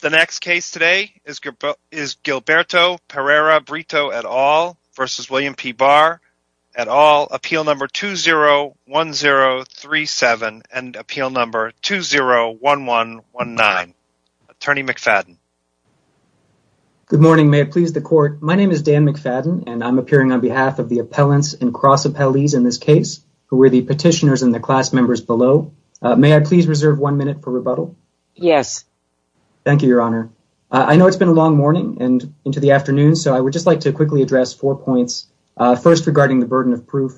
The next case today is Gilberto Pereira Brito et al. v. William P. Barr et al. Appeal number 201037 and appeal number 201119. Attorney McFadden. Good morning. May it please the court. My name is Dan McFadden and I'm appearing on behalf of the appellants and cross appellees in this case who were the petitioners and the class members below. May I please reserve one minute for rebuttal? Yes. Thank you, Your Honor. I know it's been a long morning and into the afternoon, so I would just like to quickly address four points. First, regarding the burden of proof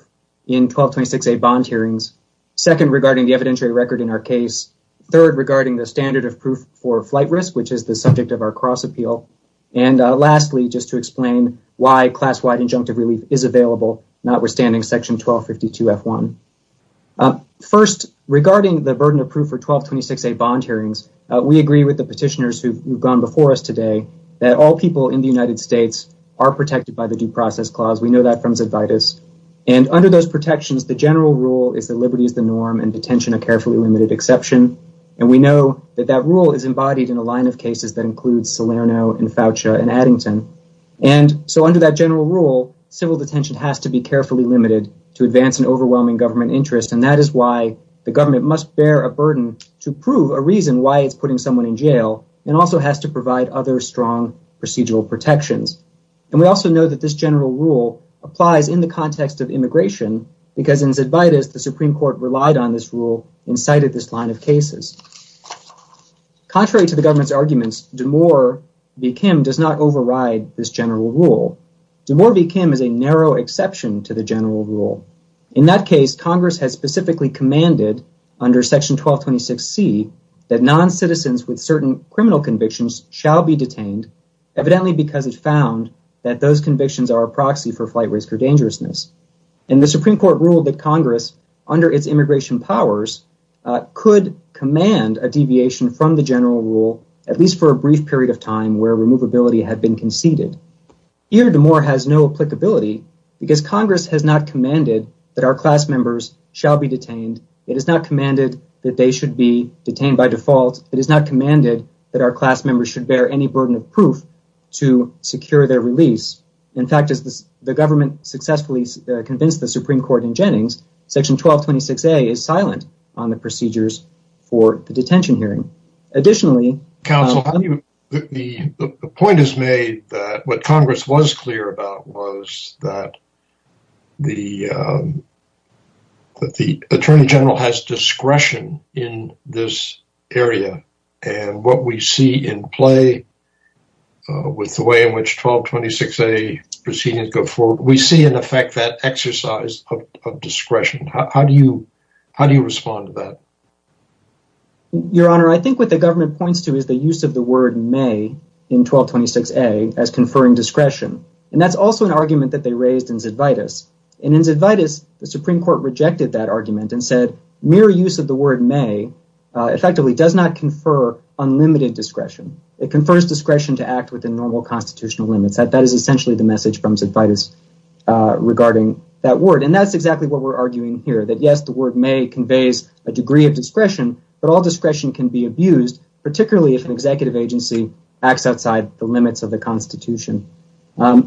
in 1226A bond hearings. Second, regarding the evidentiary record in our case. Third, regarding the standard of proof for flight risk, which is the subject of our cross appeal. And lastly, just to explain why class-wide injunctive relief is available, notwithstanding section 1252F1. First, regarding the burden of proof for 1226A bond hearings, we agree with the petitioners who have gone before us today that all people in the United States are protected by the Due Process Clause. We know that from its advitas. And under those protections, the general rule is that liberty is the norm and detention a carefully limited exception. And we know that that rule is embodied in a line of cases that includes Salerno and Foucha and Addington. And so under that general rule, civil detention has to be carefully limited to advance an overwhelming government interest. And that is why the government must bear a burden to prove a reason why it's putting someone in jail and also has to provide other strong procedural protections. And we also know that this general rule applies in the context of immigration because in its advitas, the Supreme Court relied on this rule and cited this line of cases. Contrary to the government's arguments, D'Amour v. Kim does not override this general rule. D'Amour v. Kim is a narrow exception to the general rule. In that case, Congress has specifically commanded under section 1226C that noncitizens with certain criminal convictions shall be detained, evidently because it found that those convictions are a proxy for flight risk or dangerousness. And the Supreme Court ruled that Congress, under its immigration powers, could command a deviation from the general rule, at least for a brief period of time where removability had been conceded. Here, D'Amour has no applicability because Congress has not commanded that our class members shall be detained. It has not commanded that they should be detained by default. It has not commanded that our class members should bear any burden of proof to secure their release. In fact, as the government successfully convinced the Supreme Court in Jennings, section 1226A is silent on the procedures for the detention hearing. Additionally... Counsel, the point is made that what Congress was clear about was that the Attorney General has discretion in this area. And what we see in play with the way in which 1226A proceedings go forward, we see in effect that exercise of discretion. How do you respond to that? Your Honor, I think what the government points to is the use of the word may in 1226A as conferring discretion. And that's also an argument that they raised in Zidvitas. And in Zidvitas, the Supreme Court rejected that argument and said that mere use of the word may effectively does not confer unlimited discretion. It confers discretion to act within normal constitutional limits. That is essentially the message from Zidvitas regarding that word. And that's exactly what we're arguing here. That, yes, the word may conveys a degree of discretion, but all discretion can be abused, particularly if an executive agency acts outside the limits of the Constitution. What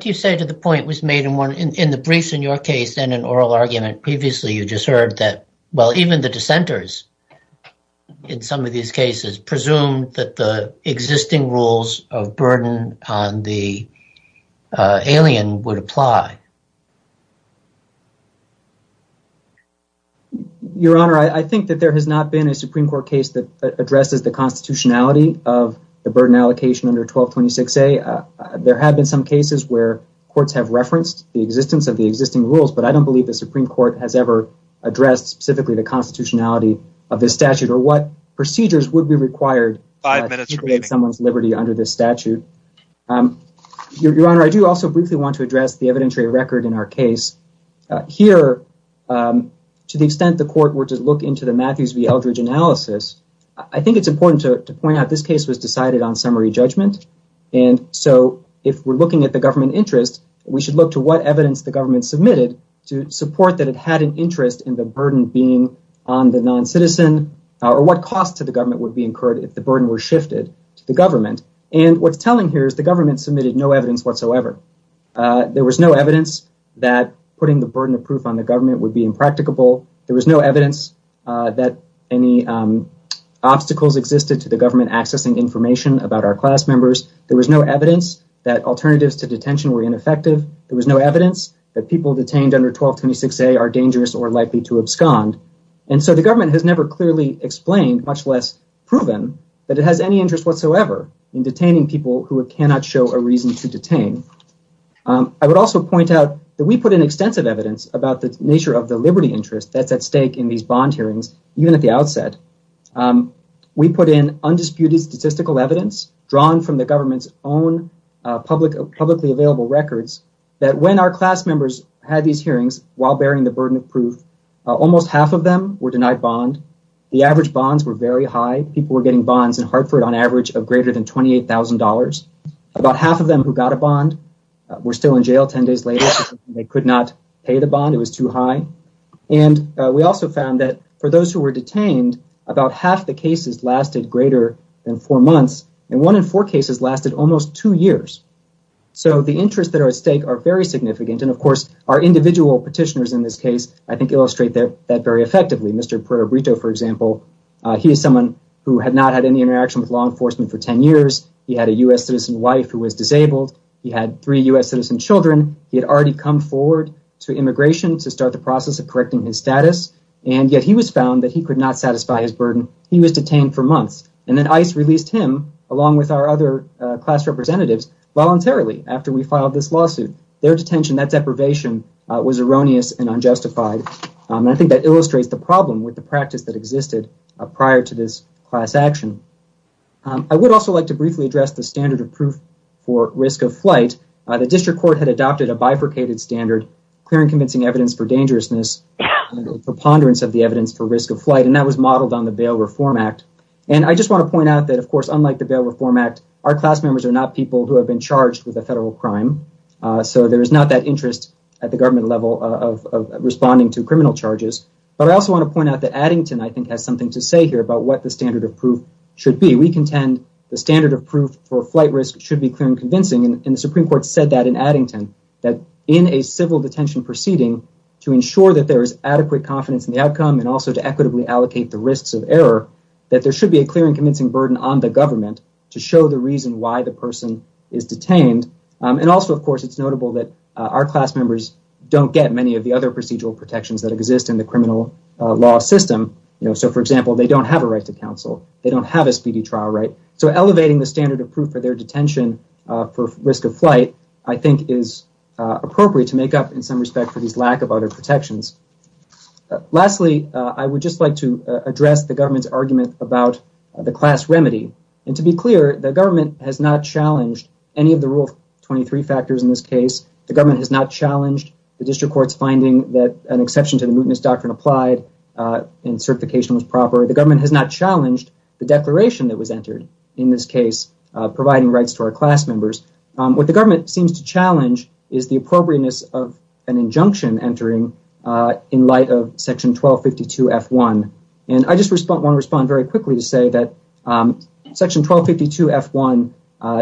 do you say to the point that was made in the briefs in your case and in oral argument previously? You just heard that, well, even the dissenters in some of these cases presumed that the existing rules of burden on the alien would apply. Your Honor, I think that there has not been a Supreme Court case that addresses the constitutionality of the burden allocation under 1226A. There have been some cases where courts have referenced the existence of the existing rules, but I don't believe the Supreme Court has ever addressed specifically the constitutionality of this statute or what procedures would be required to create someone's liberty under this statute. Your Honor, I do also briefly want to address the evidentiary record in our case. Here, to the extent the court were to look into the Matthews v. Eldridge analysis, I think it's important to point out this case was decided on summary judgment. And so if we're looking at the government interest, we should look to what evidence the government submitted to support that it had an interest in the burden being on the noncitizen or what cost to the government would be incurred if the burden were shifted to the government. And what's telling here is the government submitted no evidence whatsoever. There was no evidence that putting the burden of proof on the government would be impracticable. There was no evidence that any obstacles existed to the government accessing information about our class members. There was no evidence that alternatives to detention were ineffective. There was no evidence that people detained under 1226A are dangerous or likely to abscond. And so the government has never clearly explained, much less proven, that it has any interest whatsoever in detaining people who cannot show a reason to detain. I would also point out that we put in extensive evidence about the nature of the liberty interest that's at stake in these bond hearings, even at the outset. We put in undisputed statistical evidence drawn from the government's own publicly available records that when our class members had these hearings while bearing the burden of proof, almost half of them were denied bond. The average bonds were very high. People were getting bonds in Hartford on average of greater than $28,000. About half of them who got a bond were still in jail 10 days later. They could not pay the bond. It was too high. And we also found that for those who were detained, about half the cases lasted greater than four months, and one in four cases lasted almost two years. So the interests that are at stake are very significant, and of course our individual petitioners in this case, I think, illustrate that very effectively. Mr. Puerto Brito, for example, he is someone who had not had any interaction with law enforcement for 10 years. He had a U.S. citizen wife who was disabled. He had three U.S. citizen children. He had already come forward to immigration to start the process of correcting his status, and yet he was found that he could not satisfy his burden. He was detained for months, and then ICE released him, along with our other class representatives, voluntarily after we filed this lawsuit. Their detention, that deprivation, was erroneous and unjustified, and I think that illustrates the problem with the practice that existed prior to this class action. I would also like to briefly address the standard of proof for risk of flight. The district court had adopted a bifurcated standard, clearing convincing evidence for dangerousness, preponderance of the evidence for risk of flight, and that was modeled on the Bail Reform Act. And I just want to point out that, of course, unlike the Bail Reform Act, our class members are not people who have been charged with a federal crime, so there is not that interest at the government level of responding to criminal charges. But I also want to point out that Addington, I think, has something to say here about what the standard of proof should be. We contend the standard of proof for flight risk should be clear and convincing, and the Supreme Court said that in Addington, that in a civil detention proceeding, to ensure that there is adequate confidence in the outcome and also to equitably allocate the risks of error, that there should be a clear and convincing burden on the government to show the reason why the person is detained. And also, of course, it's notable that our class members don't get many of the other procedural protections that exist in the criminal law system. So, for example, they don't have a right to counsel. They don't have a speedy trial right. So elevating the standard of proof for their detention for risk of flight, I think, is appropriate to make up, in some respect, for this lack of other protections. Lastly, I would just like to address the government's argument about the class remedy. And to be clear, the government has not challenged any of the Rule 23 factors in this case. The government has not challenged the district court's finding that an exception to the mootness doctrine applied and certification was proper. The government has not challenged the declaration that was entered in this case, providing rights to our class members. What the government seems to challenge is the appropriateness of an injunction entering in light of Section 1252F1. And I just want to respond very quickly to say that Section 1252F1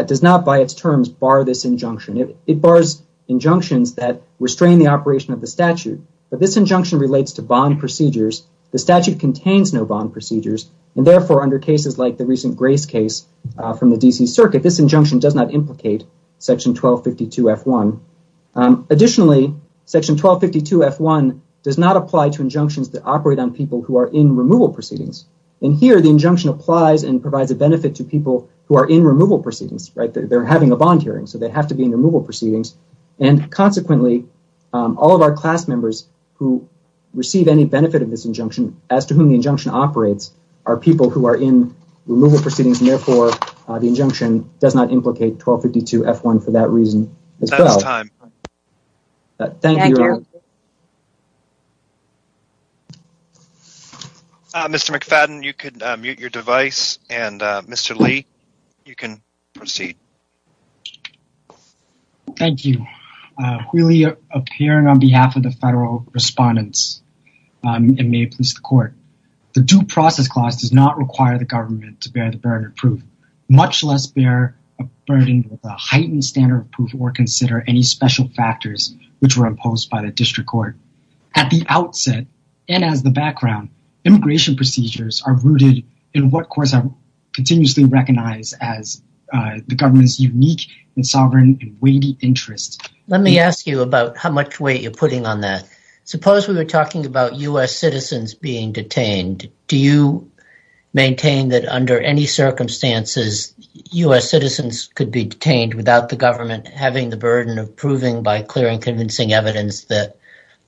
does not, by its terms, bar this injunction. It bars injunctions that restrain the operation of the statute. But this injunction relates to bond procedures. The statute contains no bond procedures. And therefore, under cases like the recent Grace case from the D.C. Circuit, this injunction does not implicate Section 1252F1. Additionally, Section 1252F1 does not apply to injunctions that operate on people who are in removal proceedings. And here, the injunction applies and provides a benefit to people who are in removal proceedings. They're having a bond hearing, so they have to be in removal proceedings. And consequently, all of our class members who receive any benefit of this injunction, as to whom the injunction operates, are people who are in removal proceedings. And therefore, the injunction does not implicate 1252F1 for that reason as well. That's time. Thank you. Mr. McFadden, you can mute your device. And Mr. Lee, you can proceed. Thank you. Really, appearing on behalf of the federal respondents, it may please the court. The due process clause does not require the government to bear the burden of proof, much less bear a burden of a heightened standard of proof or consider any special factors which were imposed by the district court. At the outset and as the background, immigration procedures are rooted in what courts have continuously recognized as the government's unique and sovereign and weighty interest. Let me ask you about how much weight you're putting on that. Suppose we were talking about U.S. citizens being detained. Do you maintain that under any circumstances U.S. citizens could be detained without the government having the burden of proving by clear and convincing evidence that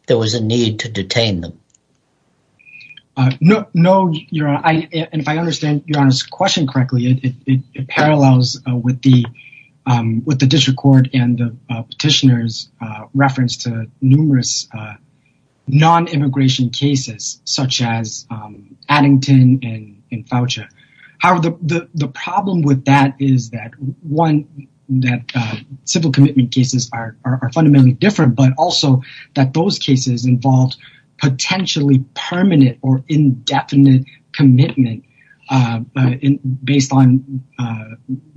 there was a need to detain them? No. No, Your Honor. And if I understand Your Honor's question correctly, it parallels with the district court and the petitioner's reference to numerous non-immigration cases such as Addington and Foucha. However, the problem with that is that one, that civil commitment cases are fundamentally different, but also that those cases involved potentially permanent or indefinite commitment based on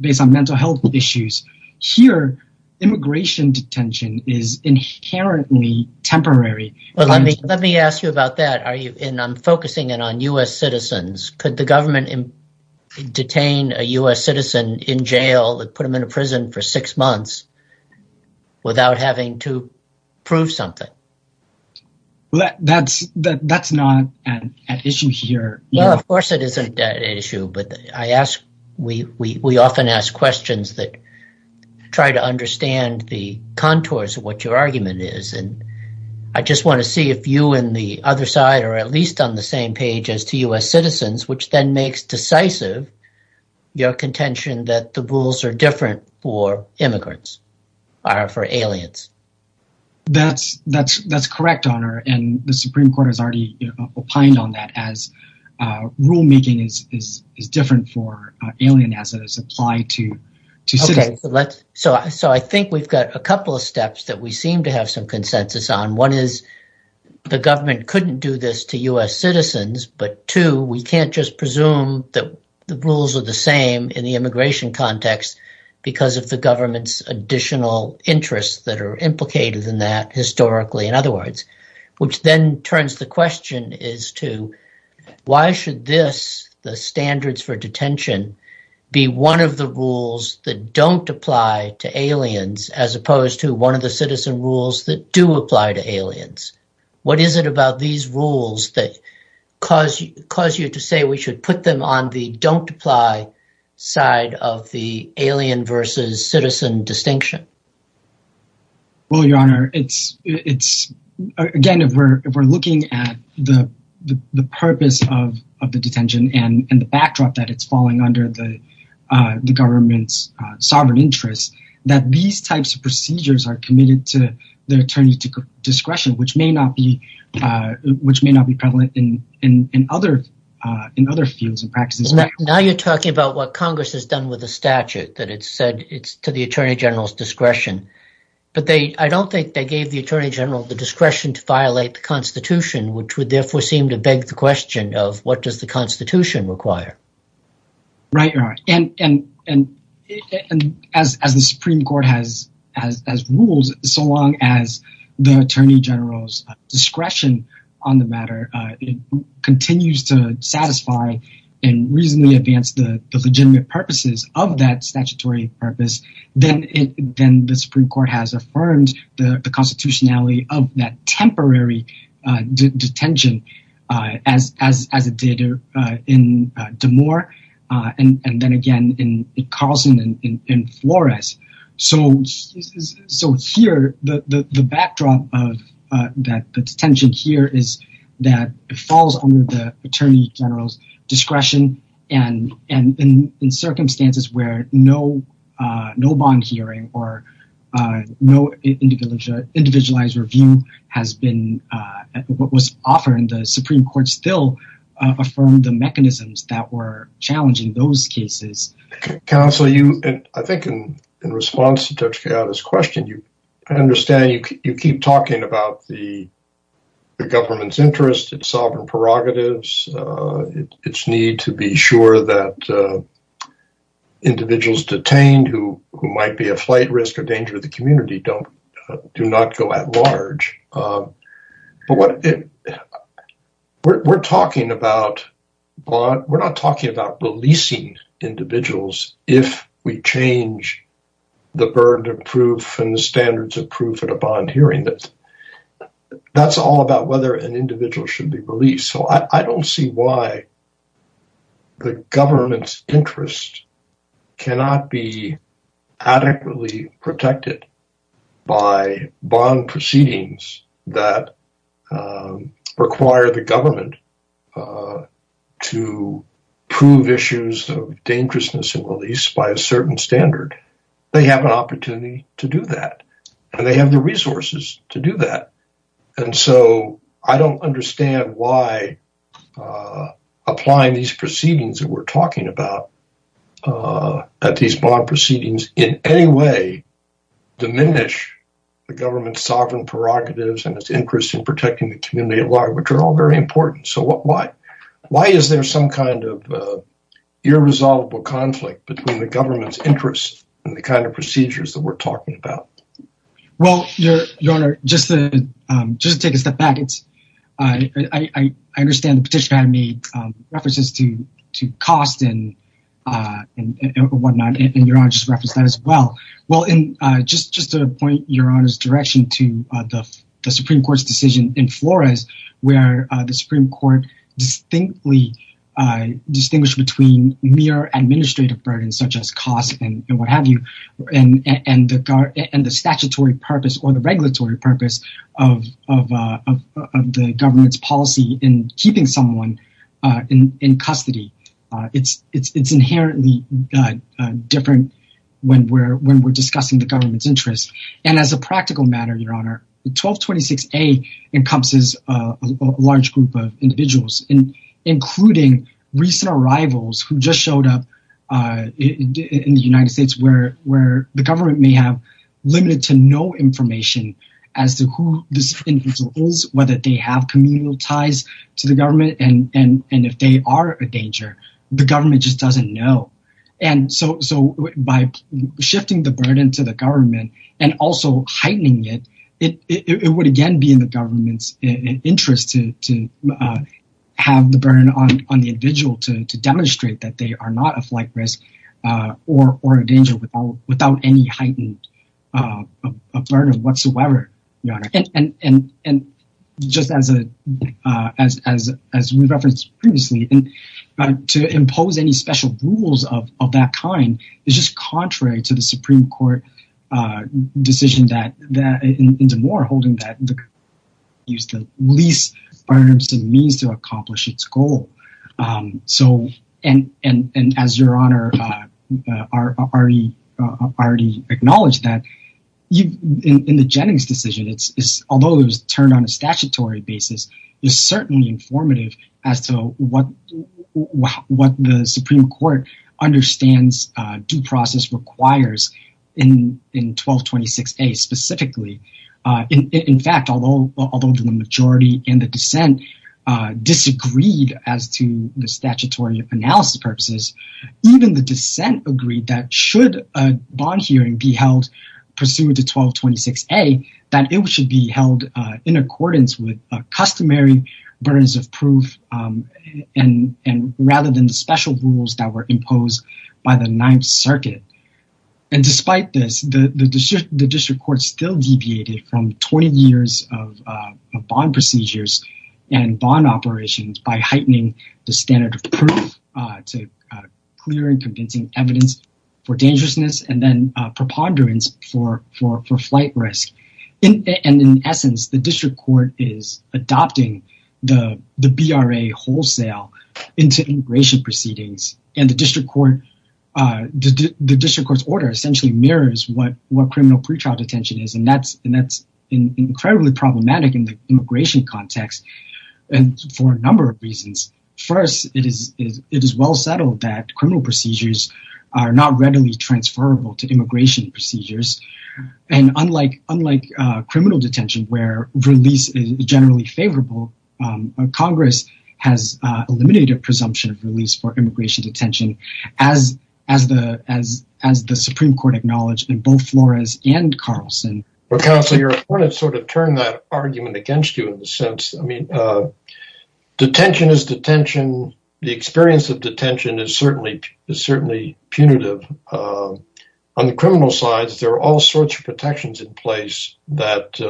mental health issues. Here, immigration detention is inherently temporary. Let me ask you about that. I'm focusing in on U.S. citizens. Could the government detain a U.S. citizen in jail and put them in a prison for six months without having to prove something? That's not an issue here. Well, of course it isn't an issue, but we often ask questions that try to understand the contours of what your argument is. And I just want to see if you and the other side are at least on the same page as to U.S. citizens, which then makes decisive your contention that the rules are different for immigrants or for aliens. That's correct, Your Honor, and the Supreme Court has already opined on that as rulemaking is different for aliens as it is applied to citizens. So I think we've got a couple of steps that we seem to have some consensus on. One is the government couldn't do this to U.S. citizens, but two, we can't just presume that the rules are the same in the immigration context because of the government's additional interests that are implicated in that historically. In other words, which then turns the question is to why should this, the standards for detention, be one of the rules that don't apply to aliens as opposed to one of the citizen rules that do apply to aliens? What is it about these rules that cause you to say we should put them on the don't apply side of the alien versus citizen distinction? Well, Your Honor, again, if we're looking at the purpose of the detention and the backdrop that it's falling under the government's sovereign interests, that these types of procedures are committed to the attorney's discretion, which may not be prevalent in other fields and practices. Now you're talking about what Congress has done with the statute that it said it's to the attorney general's discretion, but I don't think they gave the attorney general the discretion to violate the Constitution, which would therefore seem to beg the question of what does the Constitution require? Right, Your Honor. And as the Supreme Court has ruled, so long as the attorney general's discretion on the matter continues to satisfy and reasonably advance the legitimate purposes of that statutory purpose, then the Supreme Court has affirmed the constitutionality of that temporary detention as it did in Damore and then again in Carlson and Flores. So here, the backdrop of that detention here is that it falls under the attorney general's discretion and in circumstances where no bond hearing or no individualized review has been what was offered, the Supreme Court still affirmed the mechanisms that were challenging those cases. Counsel, I think in response to Dr. Chiara's question, I understand you keep talking about the government's interests, its sovereign prerogatives, its need to be sure that individuals detained who might be a flight risk or danger to the community do not go at large. But we're not talking about releasing individuals if we change the burden of proof and the standards of proof at a bond hearing. That's all about whether an individual should be released. So I don't see why the government's interest cannot be adequately protected by bond proceedings that require the government to prove issues of dangerousness and release by a certain standard. They have an opportunity to do that and they have the resources to do that. And so I don't understand why applying these proceedings that we're talking about at these bond proceedings in any way diminish the government's sovereign prerogatives and its interest in protecting the community at large, which are all very important. So why is there some kind of irresolvable conflict between the government's interest and the kind of procedures that we're talking about? Well, Your Honor, just to take a step back, I understand the petitioner had made references to cost and whatnot, and Your Honor just referenced that as well. Well, just to point Your Honor's direction to the Supreme Court's decision in Flores, where the Supreme Court distinctly distinguished between mere administrative burdens such as costs and what have you and the statutory purpose or the regulatory purpose of the government's policy in keeping someone in custody. It's inherently different when we're discussing the government's interest. And as a practical matter, Your Honor, 1226A encompasses a large group of individuals, including recent arrivals who just showed up in the United States where the government may have limited to no information as to who this individual is, whether they have communal ties to the government and if they are a danger. The government just doesn't know. And so by shifting the burden to the government and also heightening it, it would again be in the government's interest to have the burden on the individual to demonstrate that they are not a flight risk or a danger without any heightened burden whatsoever. And just as we referenced previously, to impose any special rules of that kind is just contrary to the Supreme Court decision in Des Moines holding that the government should use the least burdensome means to accomplish its goal. And as Your Honor already acknowledged that in the Jennings decision, although it was turned on a statutory basis, it's certainly informative as to what the Supreme Court understands due process requires in 1226A specifically. In fact, although the majority and the dissent disagreed as to the statutory analysis purposes, even the dissent agreed that should a bond hearing be held pursuant to 1226A, that it should be held in accordance with customary burdens of proof and rather than the special rules that were imposed by the Ninth Circuit. And despite this, the district court still deviated from 20 years of bond procedures and bond operations by heightening the standard of proof to clear and convincing evidence for dangerousness and then preponderance for flight risk. And in essence, the district court is adopting the BRA wholesale into immigration proceedings and the district court's order essentially mirrors what criminal pretrial detention is. And that's incredibly problematic in the immigration context and for a number of reasons. First, it is well settled that criminal procedures are not readily transferable to immigration procedures. And unlike criminal detention where release is generally favorable, Congress has eliminated presumption of release for immigration detention as the Supreme Court acknowledged in both Flores and Carlson. Counselor, I want to sort of turn that argument against you in the sense, I mean, detention is detention. The experience of detention is certainly punitive. On the criminal side, there are all sorts of protections in place that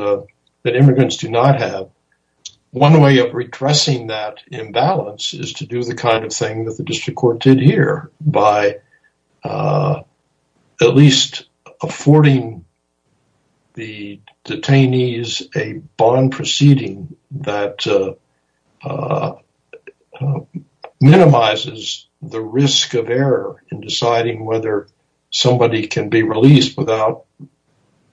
immigrants do not have. One way of redressing that imbalance is to do the kind of thing that the district court did here by at least affording the detainees a bond proceeding that minimizes the risk of error in deciding whether somebody can be released without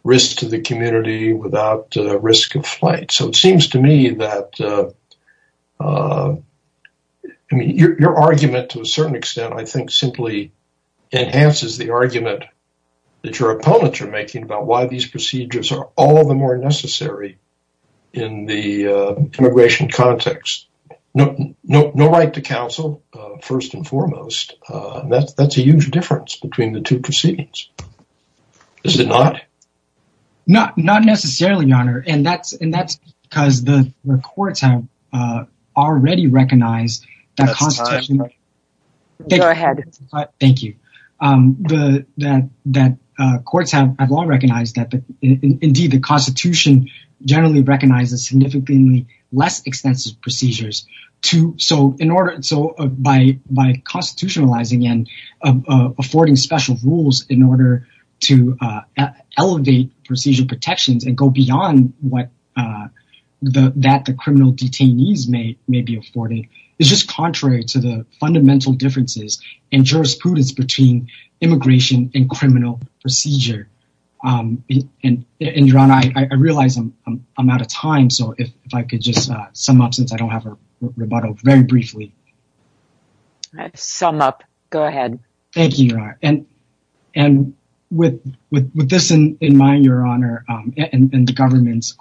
risk to the community, without risk of flight. So it seems to me that your argument to a certain extent, I think, simply enhances the argument that your opponents are making about why these procedures are all the more necessary in the immigration context. No right to counsel, first and foremost. That's a huge difference between the two proceedings. Is it not? Not necessarily, Your Honor. And that's because the courts have already recognized that constitution. Go ahead. Thank you. That courts have long recognized that. Indeed, the Constitution generally recognizes significantly less extensive procedures. So by constitutionalizing and affording special rules in order to elevate procedure protections and go beyond what the criminal detainees may be afforded is just contrary to the fundamental differences in jurisprudence between immigration and criminal procedure. And I realize I'm out of time. So if I could just sum up since I don't have a rebuttal very briefly. Sum up. Go ahead. Thank you. And with this in mind, Your Honor, and the government's,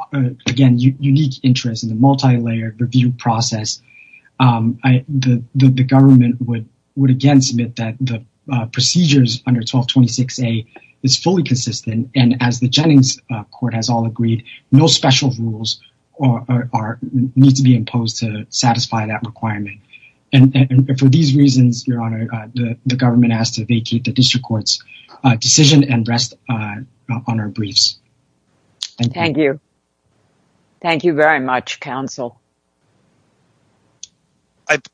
again, unique interest in the multilayered review process, the government would again submit that the procedures under 1226A is fully consistent. And as the Jennings Court has all agreed, no special rules need to be imposed to satisfy that requirement. And for these reasons, Your Honor, the government has to vacate the district court's decision and rest on our briefs. Thank you. Thank you very much, counsel.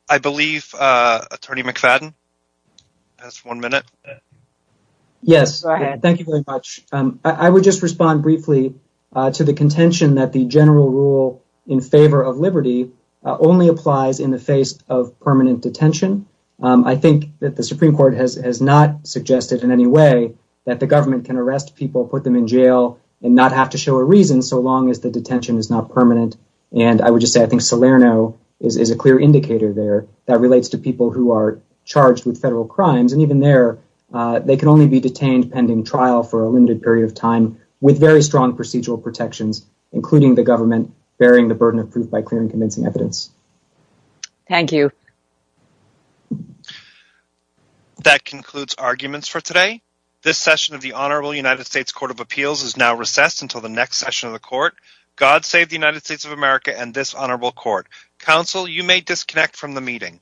I believe Attorney McFadden has one minute. Yes. Thank you very much. I would just respond briefly to the contention that the general rule in favor of liberty only applies in the face of permanent detention. I think that the Supreme Court has not suggested in any way that the government can arrest people, put them in jail and not have to show a reason so long as the detention is not permanent. And I would just say I think Salerno is a clear indicator there that relates to people who are charged with federal crimes. And even there, they can only be detained pending trial for a limited period of time with very strong procedural protections, including the government bearing the burden of proof by clearing convincing evidence. Thank you. That concludes arguments for today. This session of the Honorable United States Court of Appeals is now recessed until the next session of the court. God save the United States of America and this honorable court. Counsel, you may disconnect from the meeting.